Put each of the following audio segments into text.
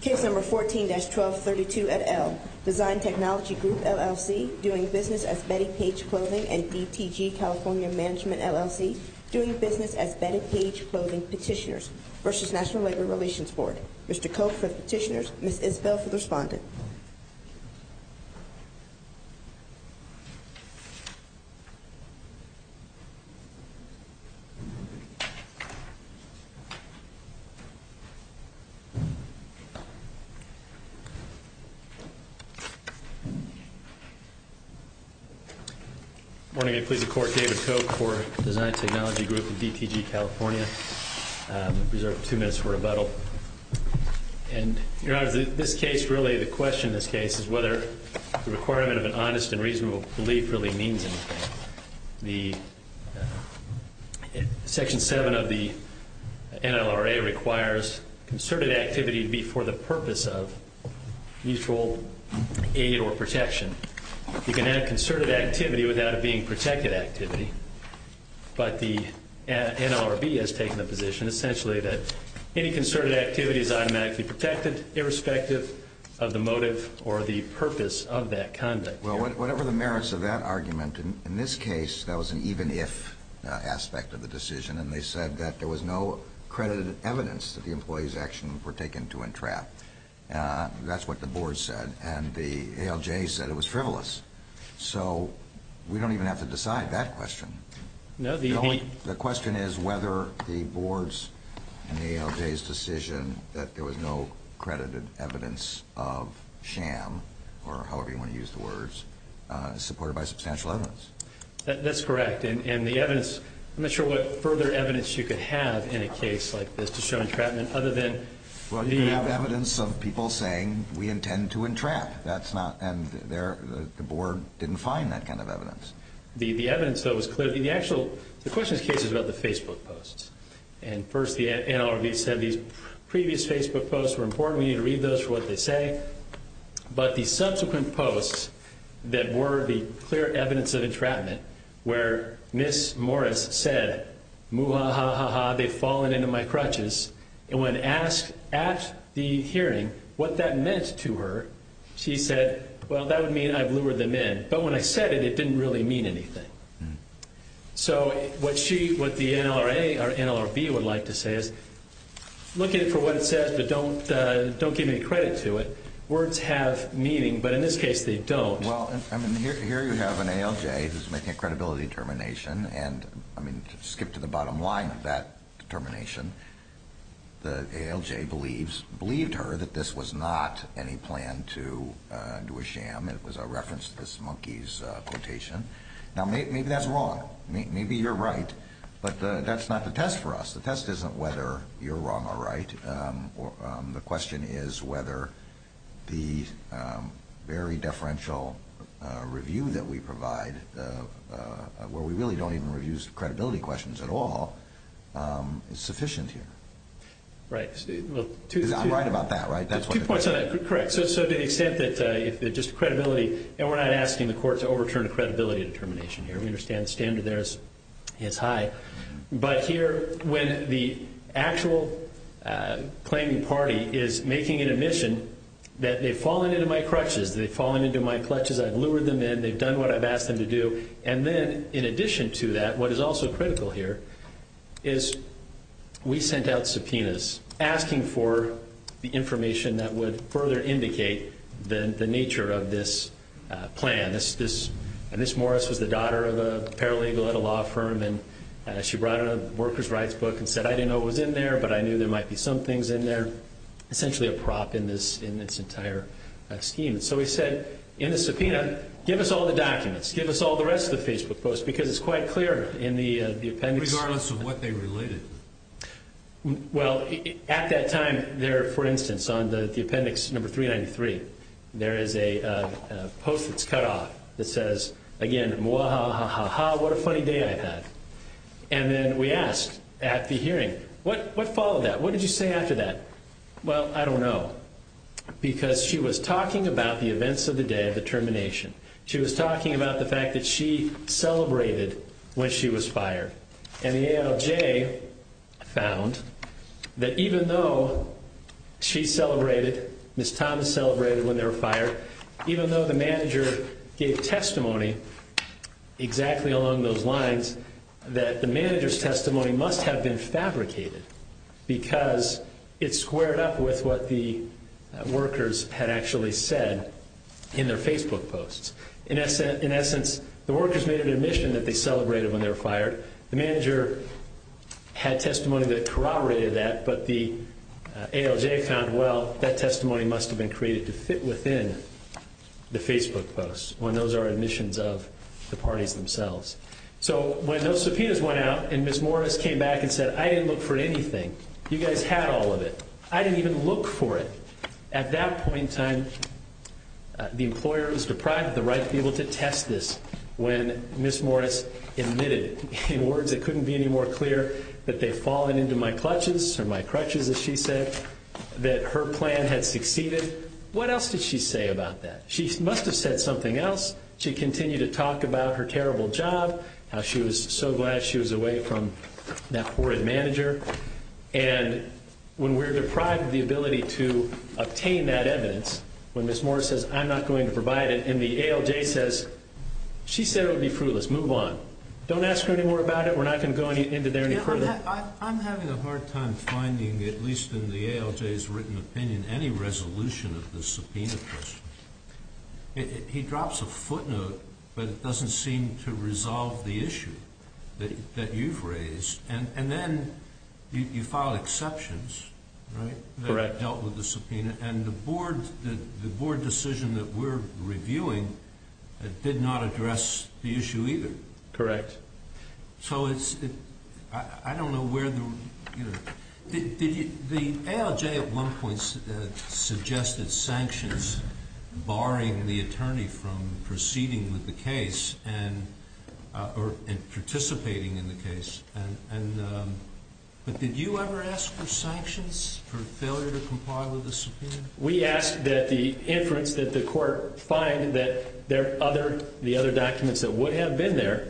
Case number 14-1232 at L. Design Technology Group, LLC, doing business as Betty Page Clothing and DTG California Management, LLC, doing business as Betty Page Clothing Petitioners v. National Labor Relations Board. Mr. Koch for the petitioners, Ms. Isbell for the respondent. Morning. I'm pleased to report David Koch for Design Technology Group of DTG California. I reserve two minutes for rebuttal. And, Your Honor, this case, really, the question in this case is whether the requirement of an honest and reasonable belief really means anything. The Section 7 of the NLRA requires concerted activity be for the purpose of mutual aid or protection. You can have concerted activity without it being protected activity. But the NLRB has taken the position, essentially, that any concerted activity is automatically protected, irrespective of the motive or the purpose of that conduct. Well, whatever the merits of that argument, in this case, that was an even-if aspect of the decision. And they said that there was no credited evidence that the employee's actions were taken to entrap. That's what the board said. And the ALJ said it was frivolous. So we don't even have to decide that question. The question is whether the board's and the ALJ's decision that there was no credited evidence of sham, or however you want to use the words, supported by substantial evidence. That's correct. And the evidence-I'm not sure what further evidence you could have in a case like this to show entrapment, other than- Well, you could have evidence of people saying, we intend to entrap. That's not-and the board didn't find that kind of evidence. The evidence, though, was clearly-the actual-the question's case is about the Facebook posts. And, first, the NLRB said these previous Facebook posts were important. We need to read those for what they say. But the subsequent posts that were the clear evidence of entrapment, where Ms. Morris said, Muhahaha, they've fallen into my crutches. And when asked at the hearing what that meant to her, she said, well, that would mean I've lured them in. But when I said it, it didn't really mean anything. So what she-what the NLRA or NLRB would like to say is, look at it for what it says, but don't give any credit to it. Words have meaning, but in this case, they don't. Well, I mean, here you have an ALJ who's making a credibility determination. And, I mean, to skip to the bottom line of that determination, the ALJ believes-believed her that this was not any plan to do a sham. It was a reference to this monkey's quotation. Now, maybe that's wrong. Maybe you're right. But that's not the test for us. The test isn't whether you're wrong or right. The question is whether the very deferential review that we provide, where we really don't even review credibility questions at all, is sufficient here. Right. Well, two- Because I'm right about that, right? That's what the question is. Two points on that. Correct. So to the extent that just credibility-and we're not asking the court to overturn a credibility determination here. We understand the standard there is high. But here, when the actual claiming party is making an admission that they've fallen into my crutches, they've fallen into my clutches, I've lured them in, they've done what I've asked them to do, And then, in addition to that, what is also critical here is we sent out subpoenas asking for the information that would further indicate the nature of this plan. And this Morris was the daughter of a paralegal at a law firm, and she brought in a worker's rights book and said, I didn't know what was in there, but I knew there might be some things in there, essentially a prop in this entire scheme. And so we said, in the subpoena, give us all the documents. Give us all the rest of the Facebook posts, because it's quite clear in the appendix- Regardless of what they related. Well, at that time, there, for instance, on the appendix number 393, there is a post that's cut off that says, again, mwahaha, what a funny day I've had. And then we asked at the hearing, what followed that? What did you say after that? Well, I don't know, because she was talking about the events of the day of the termination. She was talking about the fact that she celebrated when she was fired. And the ALJ found that even though she celebrated, Ms. Thomas celebrated when they were fired, even though the manager gave testimony exactly along those lines, that the manager's testimony must have been fabricated, because it squared up with what the workers had actually said in their Facebook posts. In essence, the workers made an admission that they celebrated when they were fired. The manager had testimony that corroborated that, but the ALJ found, well, that testimony must have been created to fit within the Facebook posts, when those are admissions of the parties themselves. So when those subpoenas went out, and Ms. Morris came back and said, I didn't look for anything. You guys had all of it. I didn't even look for it. At that point in time, the employer was deprived of the right to be able to test this when Ms. Morris admitted. In words that couldn't be any more clear, that they'd fallen into my clutches, or my crutches, as she said, that her plan had succeeded. What else did she say about that? She must have said something else. She continued to talk about her terrible job, how she was so glad she was away from that poor manager. And when we're deprived of the ability to obtain that evidence, when Ms. Morris says, I'm not going to provide it, and the ALJ says, she said it would be fruitless. Move on. Don't ask her any more about it. We're not going to go into there any further. I'm having a hard time finding, at least in the ALJ's written opinion, any resolution of the subpoena question. He drops a footnote, but it doesn't seem to resolve the issue that you've raised. And then you filed exceptions, right? Correct. That dealt with the subpoena, and the board decision that we're reviewing did not address the issue either. Correct. So I don't know where the ALJ at one point suggested sanctions, barring the attorney from proceeding with the case and participating in the case. But did you ever ask for sanctions for failure to comply with the subpoena? We asked that the inference that the court find that there are other documents that would have been there,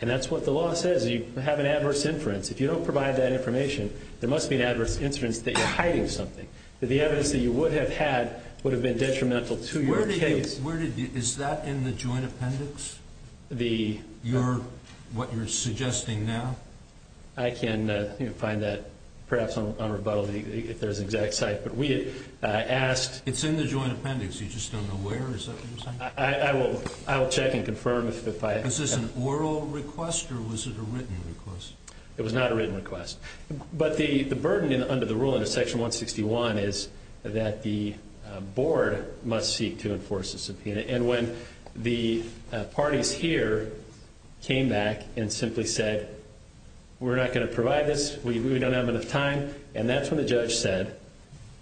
and that's what the law says. You have an adverse inference. If you don't provide that information, there must be an adverse inference that you're hiding something, that the evidence that you would have had would have been detrimental to your case. Is that in the joint appendix, what you're suggesting now? I can find that perhaps on rebuttal if there's an exact cite. It's in the joint appendix. You just don't know where? I will check and confirm. Was this an oral request or was it a written request? It was not a written request. But the burden under the rule under Section 161 is that the board must seek to enforce a subpoena. And when the parties here came back and simply said, We're not going to provide this. We don't have enough time. And that's when the judge said,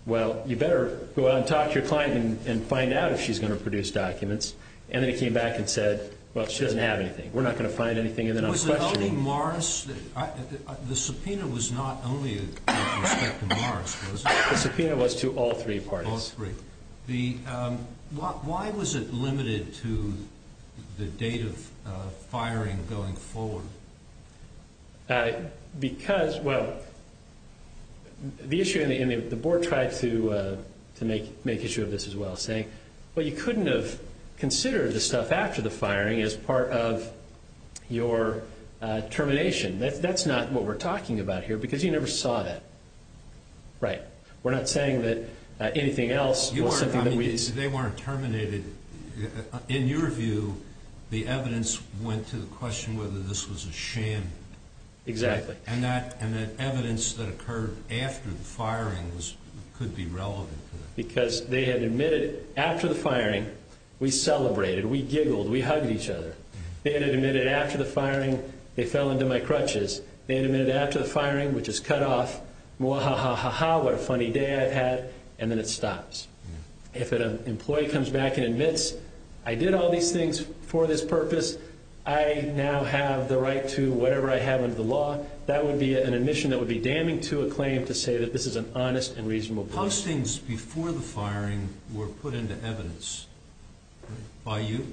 Well, you better go out and talk to your client and find out if she's going to produce documents. And then he came back and said, Well, she doesn't have anything. We're not going to find anything. And then I'm questioning. Was it only Morris? The subpoena was not only with respect to Morris, was it? The subpoena was to all three parties. All three. Why was it limited to the date of firing going forward? The board tried to make issue of this as well, saying, Well, you couldn't have considered the stuff after the firing as part of your termination. That's not what we're talking about here because you never saw that. Right. We're not saying that anything else. They weren't terminated. In your view, the evidence went to the question whether this was a sham. Exactly. And that evidence that occurred after the firing could be relevant. Because they had admitted after the firing, we celebrated, we giggled, we hugged each other. They had admitted after the firing, they fell into my crutches. They admitted after the firing, which is cut off. What a funny day I've had. And then it stops. If an employee comes back and admits, I did all these things for this purpose, I now have the right to whatever I have under the law, that would be an admission that would be damning to a claim to say that this is an honest and reasonable plea. Postings before the firing were put into evidence by you?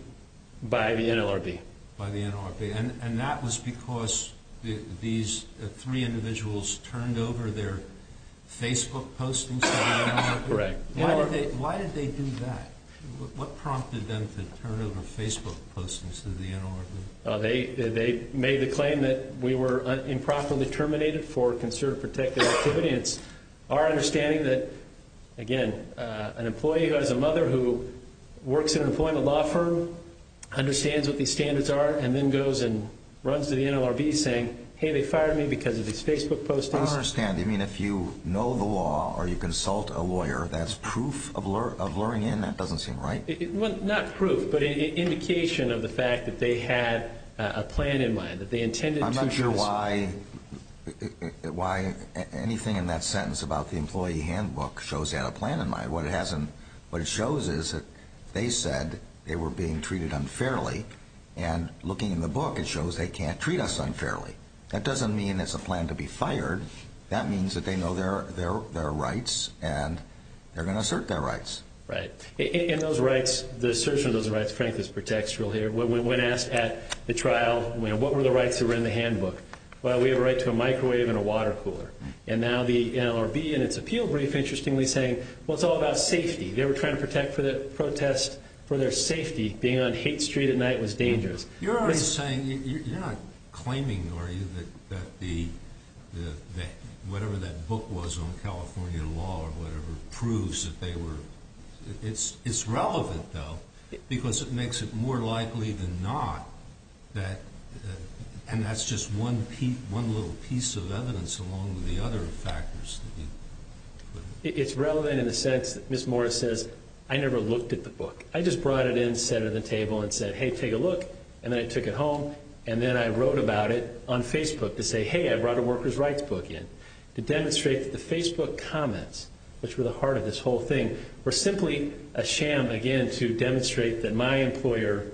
By the NLRB. By the NLRB. And that was because these three individuals turned over their Facebook postings to the NLRB? Correct. Why did they do that? What prompted them to turn over Facebook postings to the NLRB? They made the claim that we were improperly terminated for concerted protective activity. It's our understanding that, again, an employee who has a mother who works in an employment law firm understands what these standards are and then goes and runs to the NLRB saying, hey, they fired me because of these Facebook postings. I don't understand. Do you mean if you know the law or you consult a lawyer, that's proof of luring in? That doesn't seem right. Not proof, but an indication of the fact that they had a plan in mind, that they intended to. I'm not sure why anything in that sentence about the employee handbook shows they had a plan in mind. What it shows is that they said they were being treated unfairly, and looking in the book it shows they can't treat us unfairly. That doesn't mean it's a plan to be fired. That means that they know their rights and they're going to assert their rights. Right. And those rights, the assertion of those rights, frankly, is pretextual here. When asked at the trial what were the rights that were in the handbook, well, we have a right to a microwave and a water cooler. And now the NLRB in its appeal brief, interestingly, is saying, well, it's all about safety. They were trying to protect for the protest for their safety. Being on Haight Street at night was dangerous. You're already saying, you're not claiming, are you, that whatever that book was on California law or whatever proves that they were, it's relevant, though, because it makes it more likely than not that, and that's just one little piece of evidence along with the other factors. It's relevant in the sense that Ms. Morris says, I never looked at the book. I just brought it in, set it at the table, and said, hey, take a look. And then I took it home, and then I wrote about it on Facebook to say, hey, I brought a workers' rights book in to demonstrate that the Facebook comments, which were the heart of this whole thing, were simply a sham, again, to demonstrate that my employer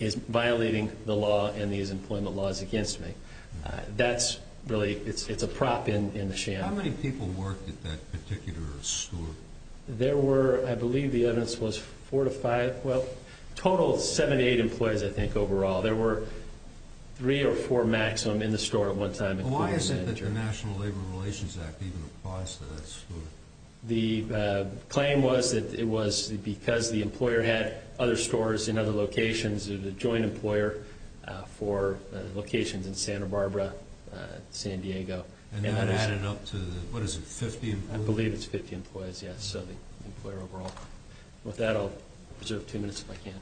is violating the law and these employment laws against me. That's really, it's a prop in the sham. How many people worked at that particular store? There were, I believe the evidence was four to five, well, a total of seven to eight employees, I think, overall. There were three or four maximum in the store at one time. Why is it that the National Labor Relations Act even applies to that store? The claim was that it was because the employer had other stores in other locations, a joint employer for locations in Santa Barbara, San Diego. And that added up to, what is it, 50 employees? I believe it's 50 employees, yes, so the employer overall. With that, I'll reserve two minutes if I can.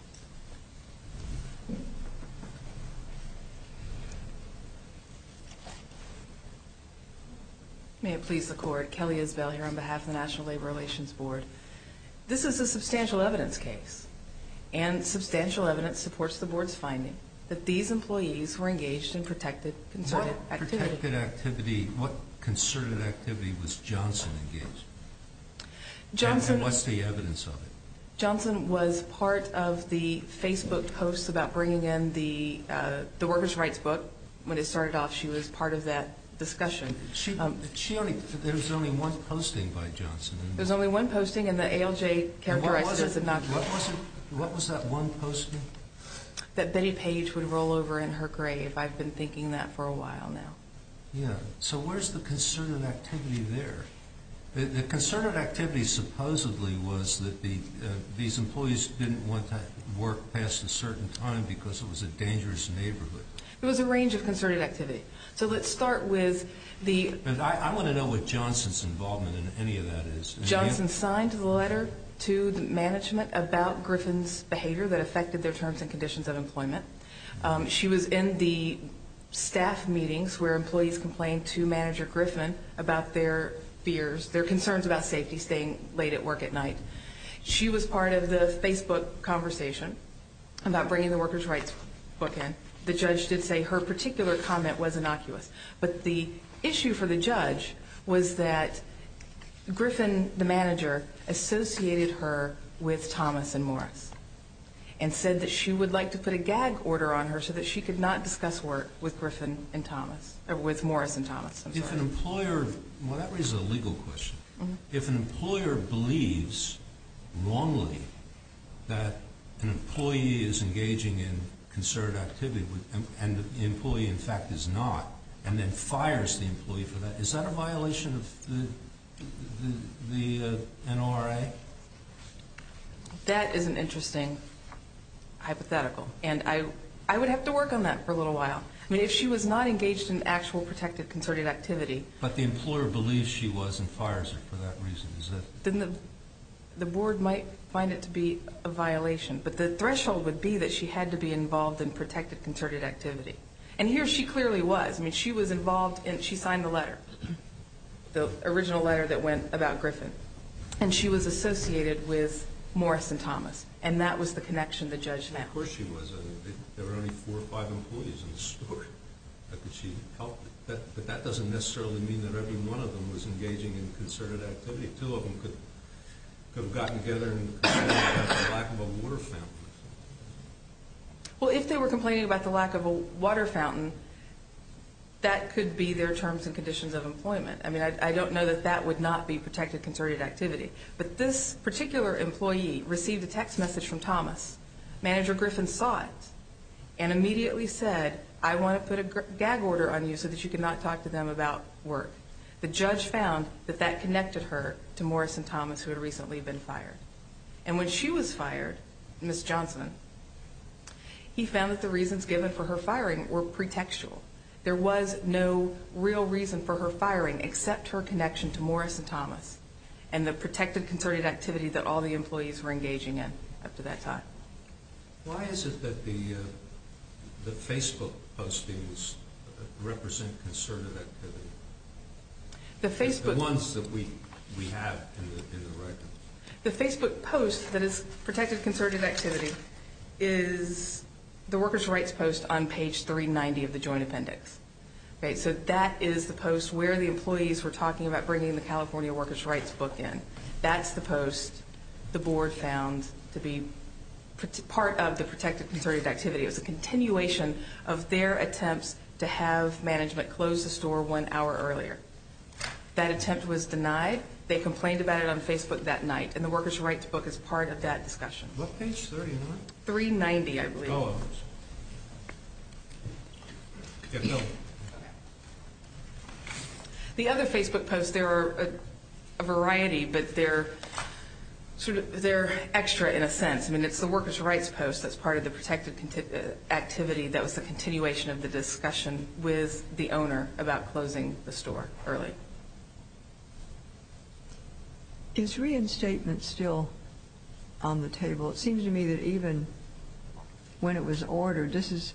May it please the Court. Kelly Isbell here on behalf of the National Labor Relations Board. This is a substantial evidence case, and substantial evidence supports the Board's finding that these employees were engaged in protected, concerted activity. What protected activity, what concerted activity was Johnson engaged in? Johnson was part of the, the Facebook posts about bringing in the workers' rights book. When it started off, she was part of that discussion. She only, there was only one posting by Johnson. There was only one posting, and the ALJ characterized it as a knockoff. What was it, what was it, what was that one posting? That Betty Page would roll over in her grave. I've been thinking that for a while now. Yeah, so where's the concerted activity there? The concerted activity supposedly was that these employees didn't want to work past a certain time because it was a dangerous neighborhood. It was a range of concerted activity. So let's start with the... I want to know what Johnson's involvement in any of that is. Johnson signed the letter to the management about Griffin's behavior that affected their terms and conditions of employment. She was in the staff meetings where employees complained to Manager Griffin about their fears, their concerns about safety staying late at work at night. She was part of the Facebook conversation about bringing the workers' rights book in. The judge did say her particular comment was innocuous. But the issue for the judge was that Griffin, the manager, associated her with Thomas and Morris and said that she would like to put a gag order on her so that she could not discuss work with Griffin and Thomas, or with Morris and Thomas. Well, that raises a legal question. If an employer believes wrongly that an employee is engaging in concerted activity and the employee, in fact, is not, and then fires the employee for that, is that a violation of the NRA? That is an interesting hypothetical, and I would have to work on that for a little while. I mean, if she was not engaged in actual protected concerted activity But the employer believes she was and fires her for that reason. Then the board might find it to be a violation. But the threshold would be that she had to be involved in protected concerted activity. And here she clearly was. I mean, she was involved and she signed the letter, the original letter that went about Griffin. And she was associated with Morris and Thomas. And that was the connection the judge had. Of course she was. There were only four or five employees in the store. How could she help? But that doesn't necessarily mean that every one of them was engaging in concerted activity. Two of them could have gotten together and complained about the lack of a water fountain. Well, if they were complaining about the lack of a water fountain, that could be their terms and conditions of employment. I mean, I don't know that that would not be protected concerted activity. But this particular employee received a text message from Thomas. Manager Griffin saw it and immediately said, I want to put a gag order on you so that you cannot talk to them about work. The judge found that that connected her to Morris and Thomas who had recently been fired. And when she was fired, Ms. Johnson, he found that the reasons given for her firing were pretextual. There was no real reason for her firing except her connection to Morris and Thomas and the protected concerted activity that all the employees were engaging in up to that time. Why is it that the Facebook postings represent concerted activity? The ones that we have in the record. The Facebook post that is protected concerted activity is the workers' rights post on page 390 of the joint appendix. So that is the post where the employees were talking about bringing the California workers' rights book in. That's the post the board found to be part of the protected concerted activity. It was a continuation of their attempts to have management close the store one hour earlier. That attempt was denied. They complained about it on Facebook that night. And the workers' rights book is part of that discussion. What page, 390? 390, I believe. The other Facebook posts, there are a variety, but they're extra in a sense. I mean, it's the workers' rights post that's part of the protected activity. That was the continuation of the discussion with the owner about closing the store early. Is reinstatement still on the table? It seems to me that even when it was ordered, this is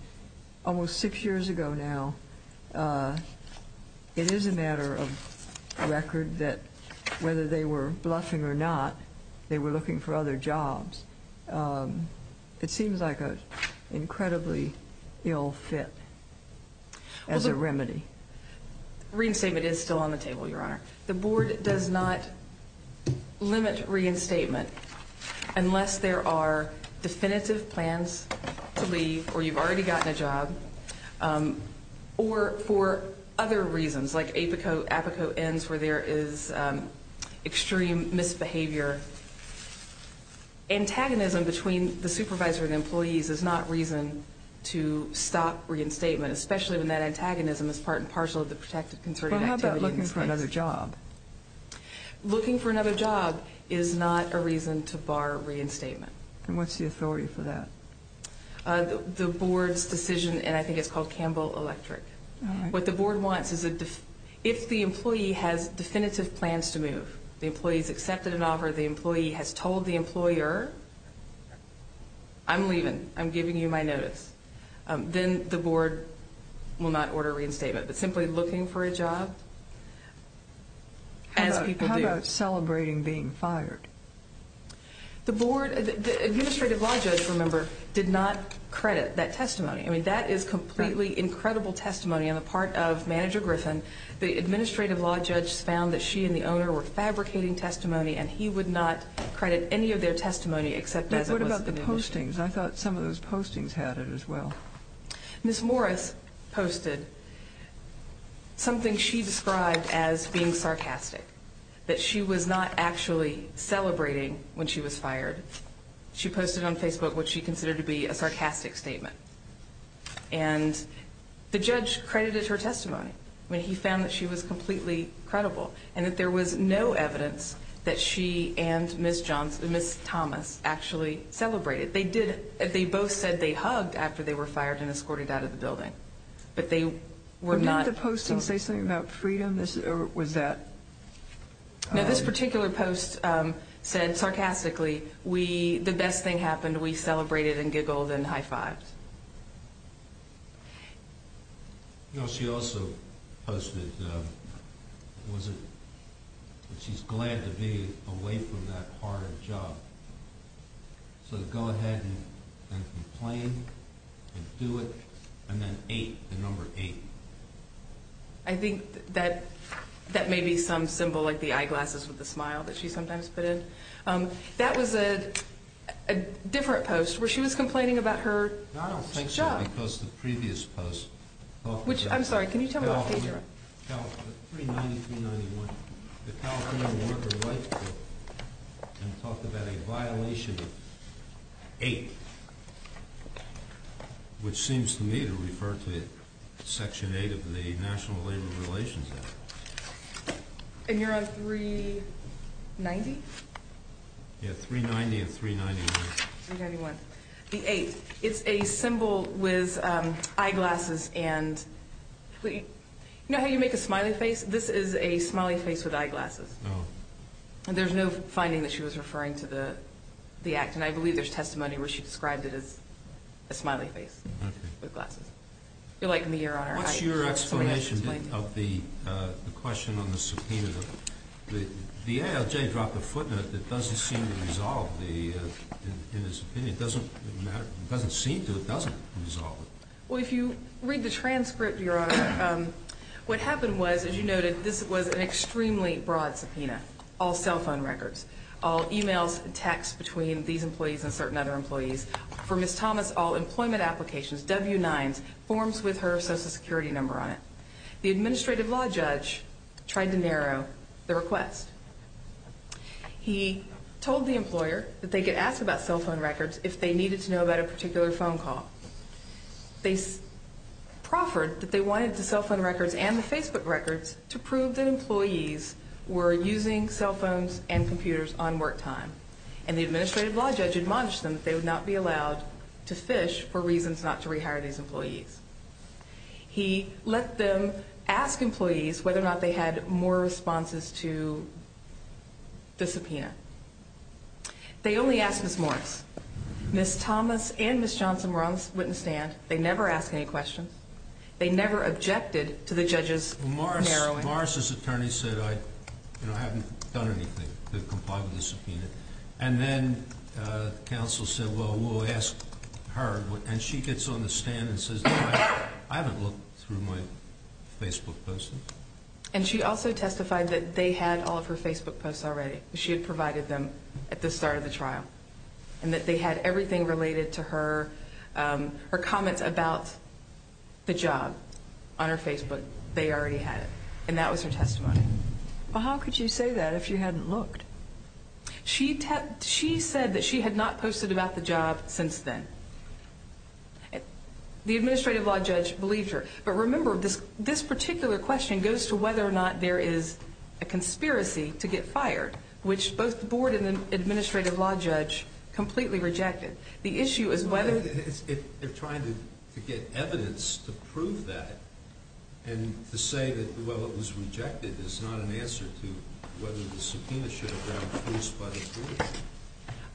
almost six years ago now, it is a matter of record that whether they were bluffing or not, they were looking for other jobs. It seems like an incredibly ill fit as a remedy. Reinstatement is still on the table, Your Honor. The board does not limit reinstatement unless there are definitive plans to leave or you've already gotten a job or for other reasons, like APICO ends where there is extreme misbehavior. Antagonism between the supervisor and employees is not reason to stop reinstatement, especially when that antagonism is part and parcel of the protected concerted activity. How about looking for another job? Looking for another job is not a reason to bar reinstatement. And what's the authority for that? The board's decision, and I think it's called Campbell Electric. What the board wants is if the employee has definitive plans to move, the employee has accepted an offer, the employee has told the employer, I'm leaving, I'm giving you my notice, then the board will not order reinstatement. It's simply looking for a job as people do. How about celebrating being fired? The board, the administrative law judge, remember, did not credit that testimony. I mean, that is completely incredible testimony on the part of Manager Griffin. The administrative law judge found that she and the owner were fabricating testimony, and he would not credit any of their testimony except as it was in the initiative. What about the postings? I thought some of those postings had it as well. Ms. Morris posted something she described as being sarcastic, that she was not actually celebrating when she was fired. She posted on Facebook what she considered to be a sarcastic statement. And the judge credited her testimony. I mean, he found that she was completely credible, and that there was no evidence that she and Ms. Thomas actually celebrated. They both said they hugged after they were fired and escorted out of the building. But they were not... But didn't the postings say something about freedom? Or was that... No, this particular post said, sarcastically, the best thing happened, we celebrated and giggled and high-fived. No, she also posted that she's glad to be away from that hard job. So go ahead and complain and do it. And then 8, the number 8. I think that may be some symbol, like the eyeglasses with the smile that she sometimes put in. That was a different post where she was complaining about her job. No, I don't think so, because the previous post talked about... Which, I'm sorry, can you tell me what page you're on? 390, 391. The California Labor Rights Bill. And it talked about a violation of 8, which seems to me to refer to Section 8 of the National Labor Relations Act. And you're on 390? Yeah, 390 and 391. 391. The 8, it's a symbol with eyeglasses and... You know how you make a smiley face? This is a smiley face with eyeglasses. And there's no finding that she was referring to the act. And I believe there's testimony where she described it as a smiley face with glasses. You're liking the ear on her eye. What's your explanation of the question on the subpoena? The ALJ dropped a footnote that doesn't seem to resolve the, in his opinion, it doesn't seem to, it doesn't resolve it. Well, if you read the transcript, Your Honor, what happened was, as you noted, this was an extremely broad subpoena, all cell phone records, all e-mails and texts between these employees and certain other employees. For Ms. Thomas, all employment applications, W-9s, forms with her Social Security number on it. The administrative law judge tried to narrow the request. He told the employer that they could ask about cell phone records if they needed to know about a particular phone call. They proffered that they wanted the cell phone records and the Facebook records to prove that employees were using cell phones and computers on work time. And the administrative law judge admonished them that they would not be allowed to fish for reasons not to rehire these employees. He let them ask employees whether or not they had more responses to the subpoena. They only asked Ms. Morris. Ms. Thomas and Ms. Johnson were on the witness stand. They never asked any questions. They never objected to the judge's narrowing. Morris's attorney said, you know, I haven't done anything to comply with the subpoena. And then counsel said, well, we'll ask her. And she gets on the stand and says, I haven't looked through my Facebook posts. And she also testified that they had all of her Facebook posts already. She had provided them at the start of the trial and that they had everything related to her comments about the job on her Facebook. They already had it. And that was her testimony. Well, how could you say that if you hadn't looked? She said that she had not posted about the job since then. The administrative law judge believed her. But remember, this particular question goes to whether or not there is a conspiracy to get fired, which both the board and the administrative law judge completely rejected. The issue is whether they're trying to get evidence to prove that and to say that, well, it was rejected is not an answer to whether the subpoena should have been introduced by the jury.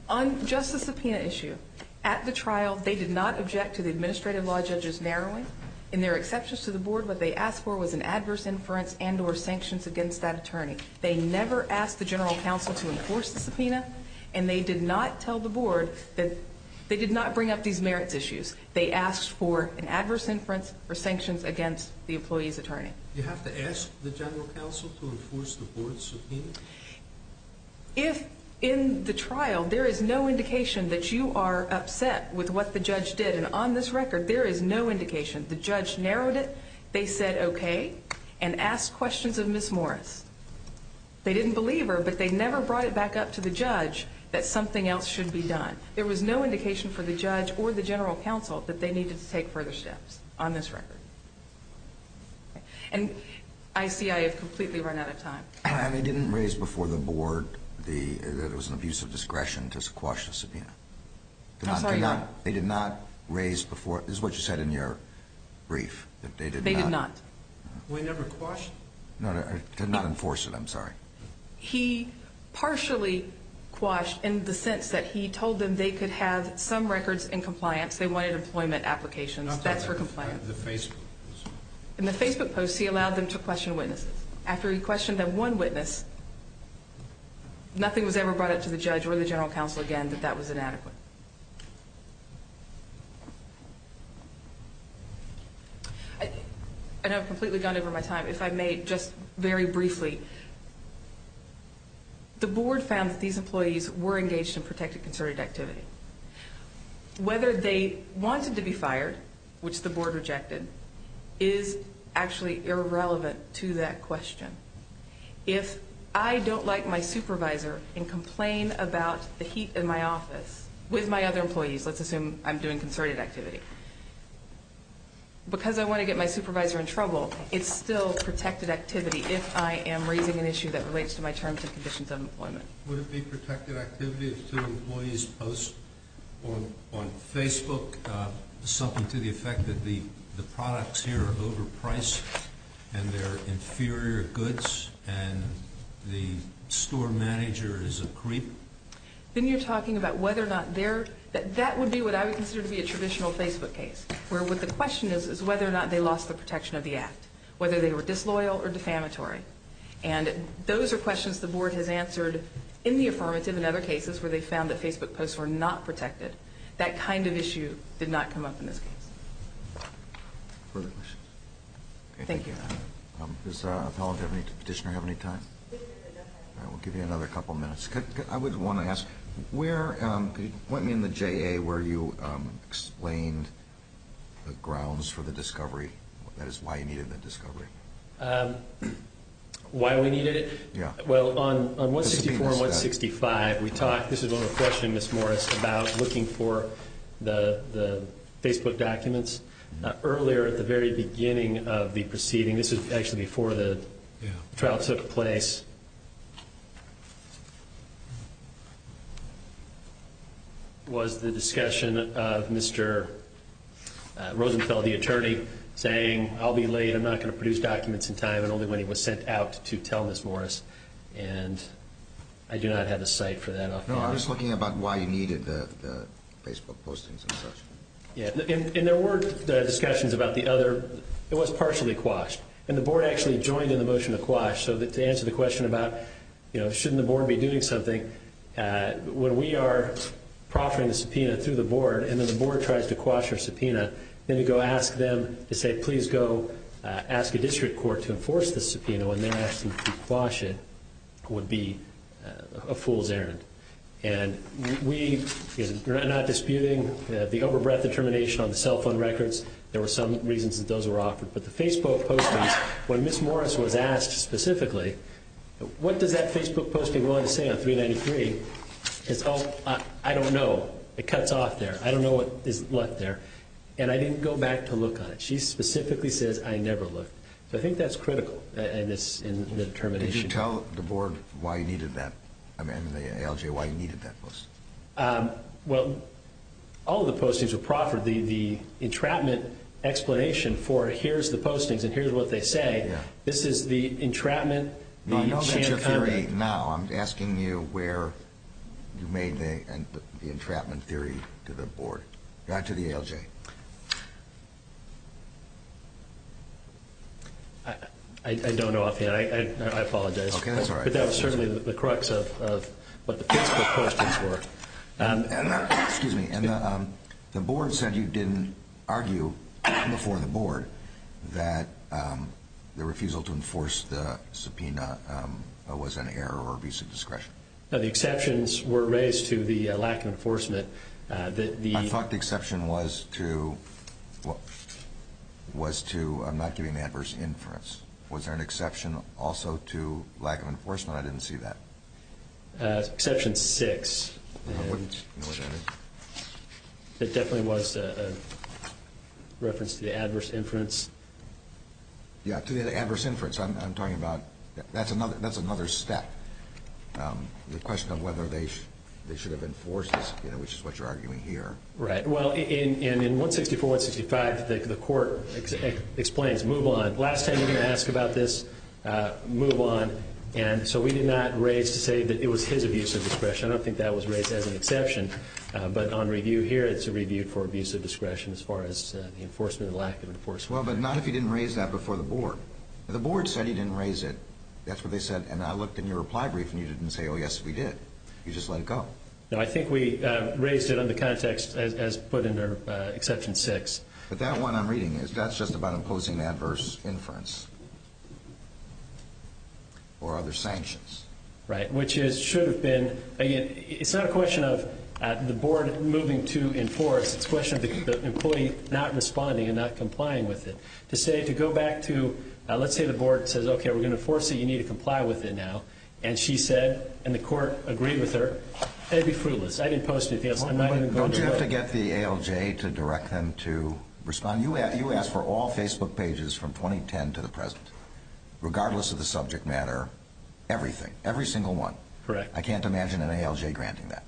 On just the subpoena issue, at the trial, they did not object to the administrative law judge's narrowing. In their exceptions to the board, what they asked for was an adverse inference and or sanctions against that attorney. They never asked the general counsel to enforce the subpoena. And they did not tell the board that they did not bring up these merits issues. They asked for an adverse inference or sanctions against the employee's attorney. You have to ask the general counsel to enforce the board's subpoena? If in the trial, there is no indication that you are upset with what the judge did, and on this record, there is no indication. The judge narrowed it. They said, okay, and asked questions of Ms. Morris. They didn't believe her, but they never brought it back up to the judge that something else should be done. There was no indication for the judge or the general counsel that they needed to take further steps on this record. And I see I have completely run out of time. And they didn't raise before the board that it was an abuse of discretion to quash the subpoena? I'm sorry? They did not raise before? This is what you said in your brief, that they did not? They did not. We never quashed? No, they did not enforce it. I'm sorry. He partially quashed in the sense that he told them they could have some records in compliance. They wanted employment applications. That's for compliance. In the Facebook post. In the Facebook post, he allowed them to question witnesses. After he questioned that one witness, nothing was ever brought up to the judge or the general counsel again that that was inadequate. I know I've completely gone over my time. If I may, just very briefly, the board found that these employees were engaged in protected concerted activity. Whether they wanted to be fired, which the board rejected, is actually irrelevant to that question. If I don't like my supervisor and complain about the heat in my office with my other employees, let's assume I'm doing concerted activity, because I want to get my supervisor in trouble, it's still protected activity if I am raising an issue that relates to my terms and conditions of employment. Would it be protected activity if two employees post on Facebook something to the effect that the products here are overpriced and they're inferior goods and the store manager is a creep? Then you're talking about whether or not they're – that would be what I would consider to be a traditional Facebook case, where what the question is is whether or not they lost the protection of the act, whether they were disloyal or defamatory. And those are questions the board has answered in the affirmative in other cases where they found that Facebook posts were not protected. That kind of issue did not come up in this case. Further questions? Thank you. Does the petitioner have any time? All right, we'll give you another couple minutes. I would want to ask, where – point me in the JA where you explained the grounds for the discovery, that is, why you needed the discovery. Why we needed it? Yeah. Well, on 164 and 165, we talked – this is one of the questions, Ms. Morris, about looking for the Facebook documents. Earlier at the very beginning of the proceeding – this is actually before the trial took place – was the discussion of Mr. Rosenfeld, the attorney, saying, I'll be late, I'm not going to produce documents in time, and only when he was sent out to tell Ms. Morris. And I do not have a site for that up there. No, I'm just looking about why you needed the Facebook postings and such. Yeah. And there were discussions about the other – it was partially quashed. And the board actually joined in the motion to quash. So to answer the question about, you know, shouldn't the board be doing something, when we are proffering the subpoena through the board and then the board tries to quash our subpoena, then to go ask them to say, please go ask a district court to enforce this subpoena when they're asking to quash it would be a fool's errand. And we are not disputing the overbreadth determination on the cell phone records. There were some reasons that those were offered. But the Facebook postings, when Ms. Morris was asked specifically, what does that Facebook post be willing to say on 393, it's all, I don't know. It cuts off there. I don't know what is left there. And I didn't go back to look on it. She specifically says, I never looked. So I think that's critical in the determination. Did you tell the board why you needed that, I mean, the ALJ, why you needed that post? Well, all of the postings were proffered. The entrapment explanation for here's the postings and here's what they say, this is the entrapment. I know that's your theory now. I'm asking you where you made the entrapment theory to the board, to the ALJ. I don't know offhand. I apologize. Okay, that's all right. But that was certainly the crux of what the Facebook postings were. Excuse me. The board said you didn't argue before the board that the refusal to enforce the subpoena was an error or abuse of discretion. No, the exceptions were raised to the lack of enforcement. I thought the exception was to, I'm not giving the adverse inference. Was there an exception also to lack of enforcement? I didn't see that. Exception six. I wouldn't know what that is. It definitely was a reference to the adverse inference. Yeah, to the adverse inference. I'm talking about, that's another step. The question of whether they should have enforced the subpoena, which is what you're arguing here. Right. Well, in 164, 165, the court explains, move on. Last time you're going to ask about this, move on. And so we did not raise to say that it was his abuse of discretion. I don't think that was raised as an exception. But on review here, it's a review for abuse of discretion as far as the enforcement and lack of enforcement. Well, but not if you didn't raise that before the board. The board said he didn't raise it. That's what they said. And I looked in your reply brief and you didn't say, oh, yes, we did. You just let it go. No, I think we raised it under context as put in our Exception 6. But that one I'm reading is that's just about imposing adverse inference or other sanctions. Right, which should have been. Again, it's not a question of the board moving to enforce. It's a question of the employee not responding and not complying with it. To say, to go back to, let's say the board says, okay, we're going to enforce it. You need to comply with it now. And she said, and the court agreed with her, it would be fruitless. I didn't post it. Don't you have to get the ALJ to direct them to respond? You asked for all Facebook pages from 2010 to the present, regardless of the subject matter, everything, every single one. Correct. I can't imagine an ALJ granting that.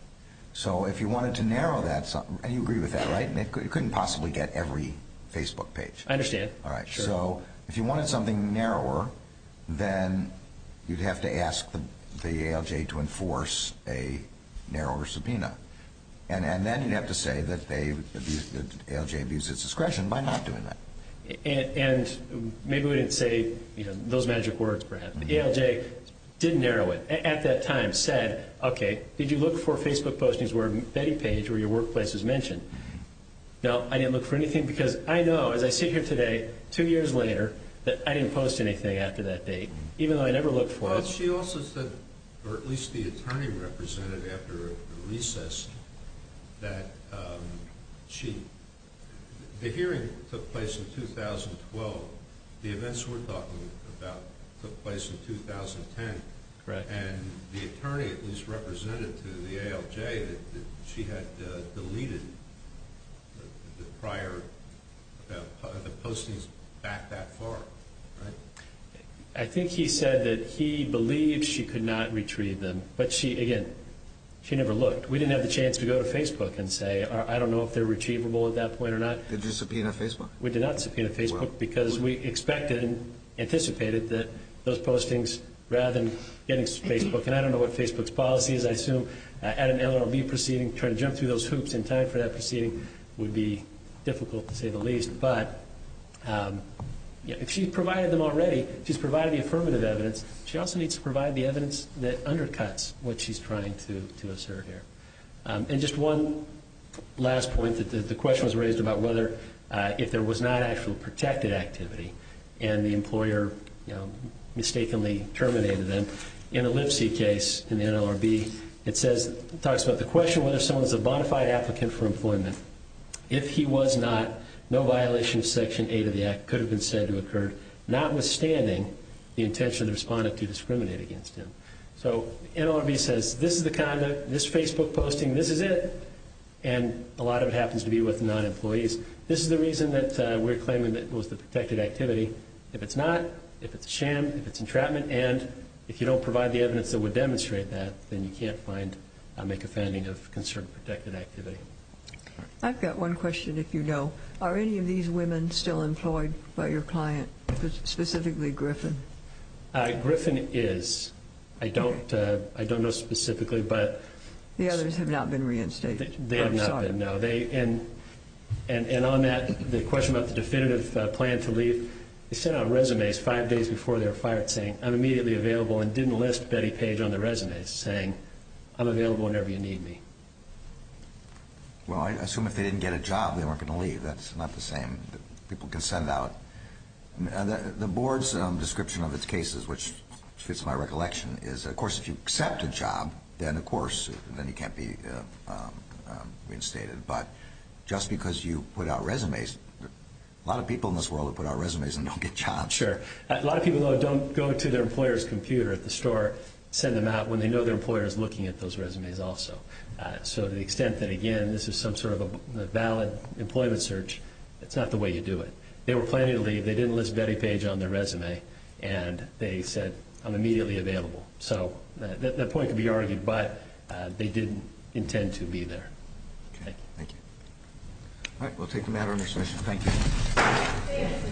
So if you wanted to narrow that, and you agree with that, right? You couldn't possibly get every Facebook page. I understand. All right. So if you wanted something narrower, then you'd have to ask the ALJ to enforce a narrower subpoena. And then you'd have to say that ALJ abused its discretion by not doing that. And maybe we didn't say those magic words, Brad. The ALJ didn't narrow it. At that time said, okay, did you look for Facebook postings where a betting page or your workplace is mentioned? No, I didn't look for anything. Because I know, as I sit here today, two years later, that I didn't post anything after that date, even though I never looked for it. She also said, or at least the attorney represented after the recess, that the hearing took place in 2012. The events we're talking about took place in 2010. Correct. And the attorney at least represented to the ALJ that she had deleted the postings back that far, right? I think he said that he believed she could not retrieve them. But, again, she never looked. We didn't have the chance to go to Facebook and say, I don't know if they're retrievable at that point or not. Did you subpoena Facebook? We did not subpoena Facebook because we expected and anticipated that those postings, rather than getting Facebook. And I don't know what Facebook's policy is. I assume at an LRB proceeding, trying to jump through those hoops in time for that proceeding would be difficult, to say the least. But if she provided them already, she's provided the affirmative evidence. She also needs to provide the evidence that undercuts what she's trying to assert here. And just one last point. The question was raised about whether if there was not actual protected activity and the employer mistakenly terminated them. In a Lipsey case in the NLRB, it talks about the question whether someone's a bona fide applicant for employment. If he was not, no violation of Section 8 of the Act could have been said to have occurred, notwithstanding the intention of the respondent to discriminate against him. So NLRB says this is the conduct, this Facebook posting, this is it. And a lot of it happens to be with non-employees. This is the reason that we're claiming that it was the protected activity. If it's not, if it's a sham, if it's entrapment, and if you don't provide the evidence that would demonstrate that, then you can't make a finding of concerned protected activity. I've got one question, if you know. Are any of these women still employed by your client, specifically Griffin? Griffin is. I don't know specifically. The others have not been reinstated? They have not been, no. And on that, the question about the definitive plan to leave, they sent out resumes five days before they were fired saying, I'm immediately available and didn't list Betty Page on the resumes saying, I'm available whenever you need me. Well, I assume if they didn't get a job, they weren't going to leave. That's not the same. People can send out. The board's description of its cases, which fits my recollection, is, of course, if you accept a job, then of course, then you can't be reinstated. But just because you put out resumes, a lot of people in this world have put out resumes and don't get jobs. Sure. A lot of people, though, don't go to their employer's computer at the store, send them out when they know their employer is looking at those resumes also. So to the extent that, again, this is some sort of a valid employment search, it's not the way you do it. They were planning to leave. They didn't list Betty Page on their resume. And they said, I'm immediately available. So that point can be argued. But they didn't intend to be there. Okay. Thank you. All right. We'll take a matter under session. Thank you.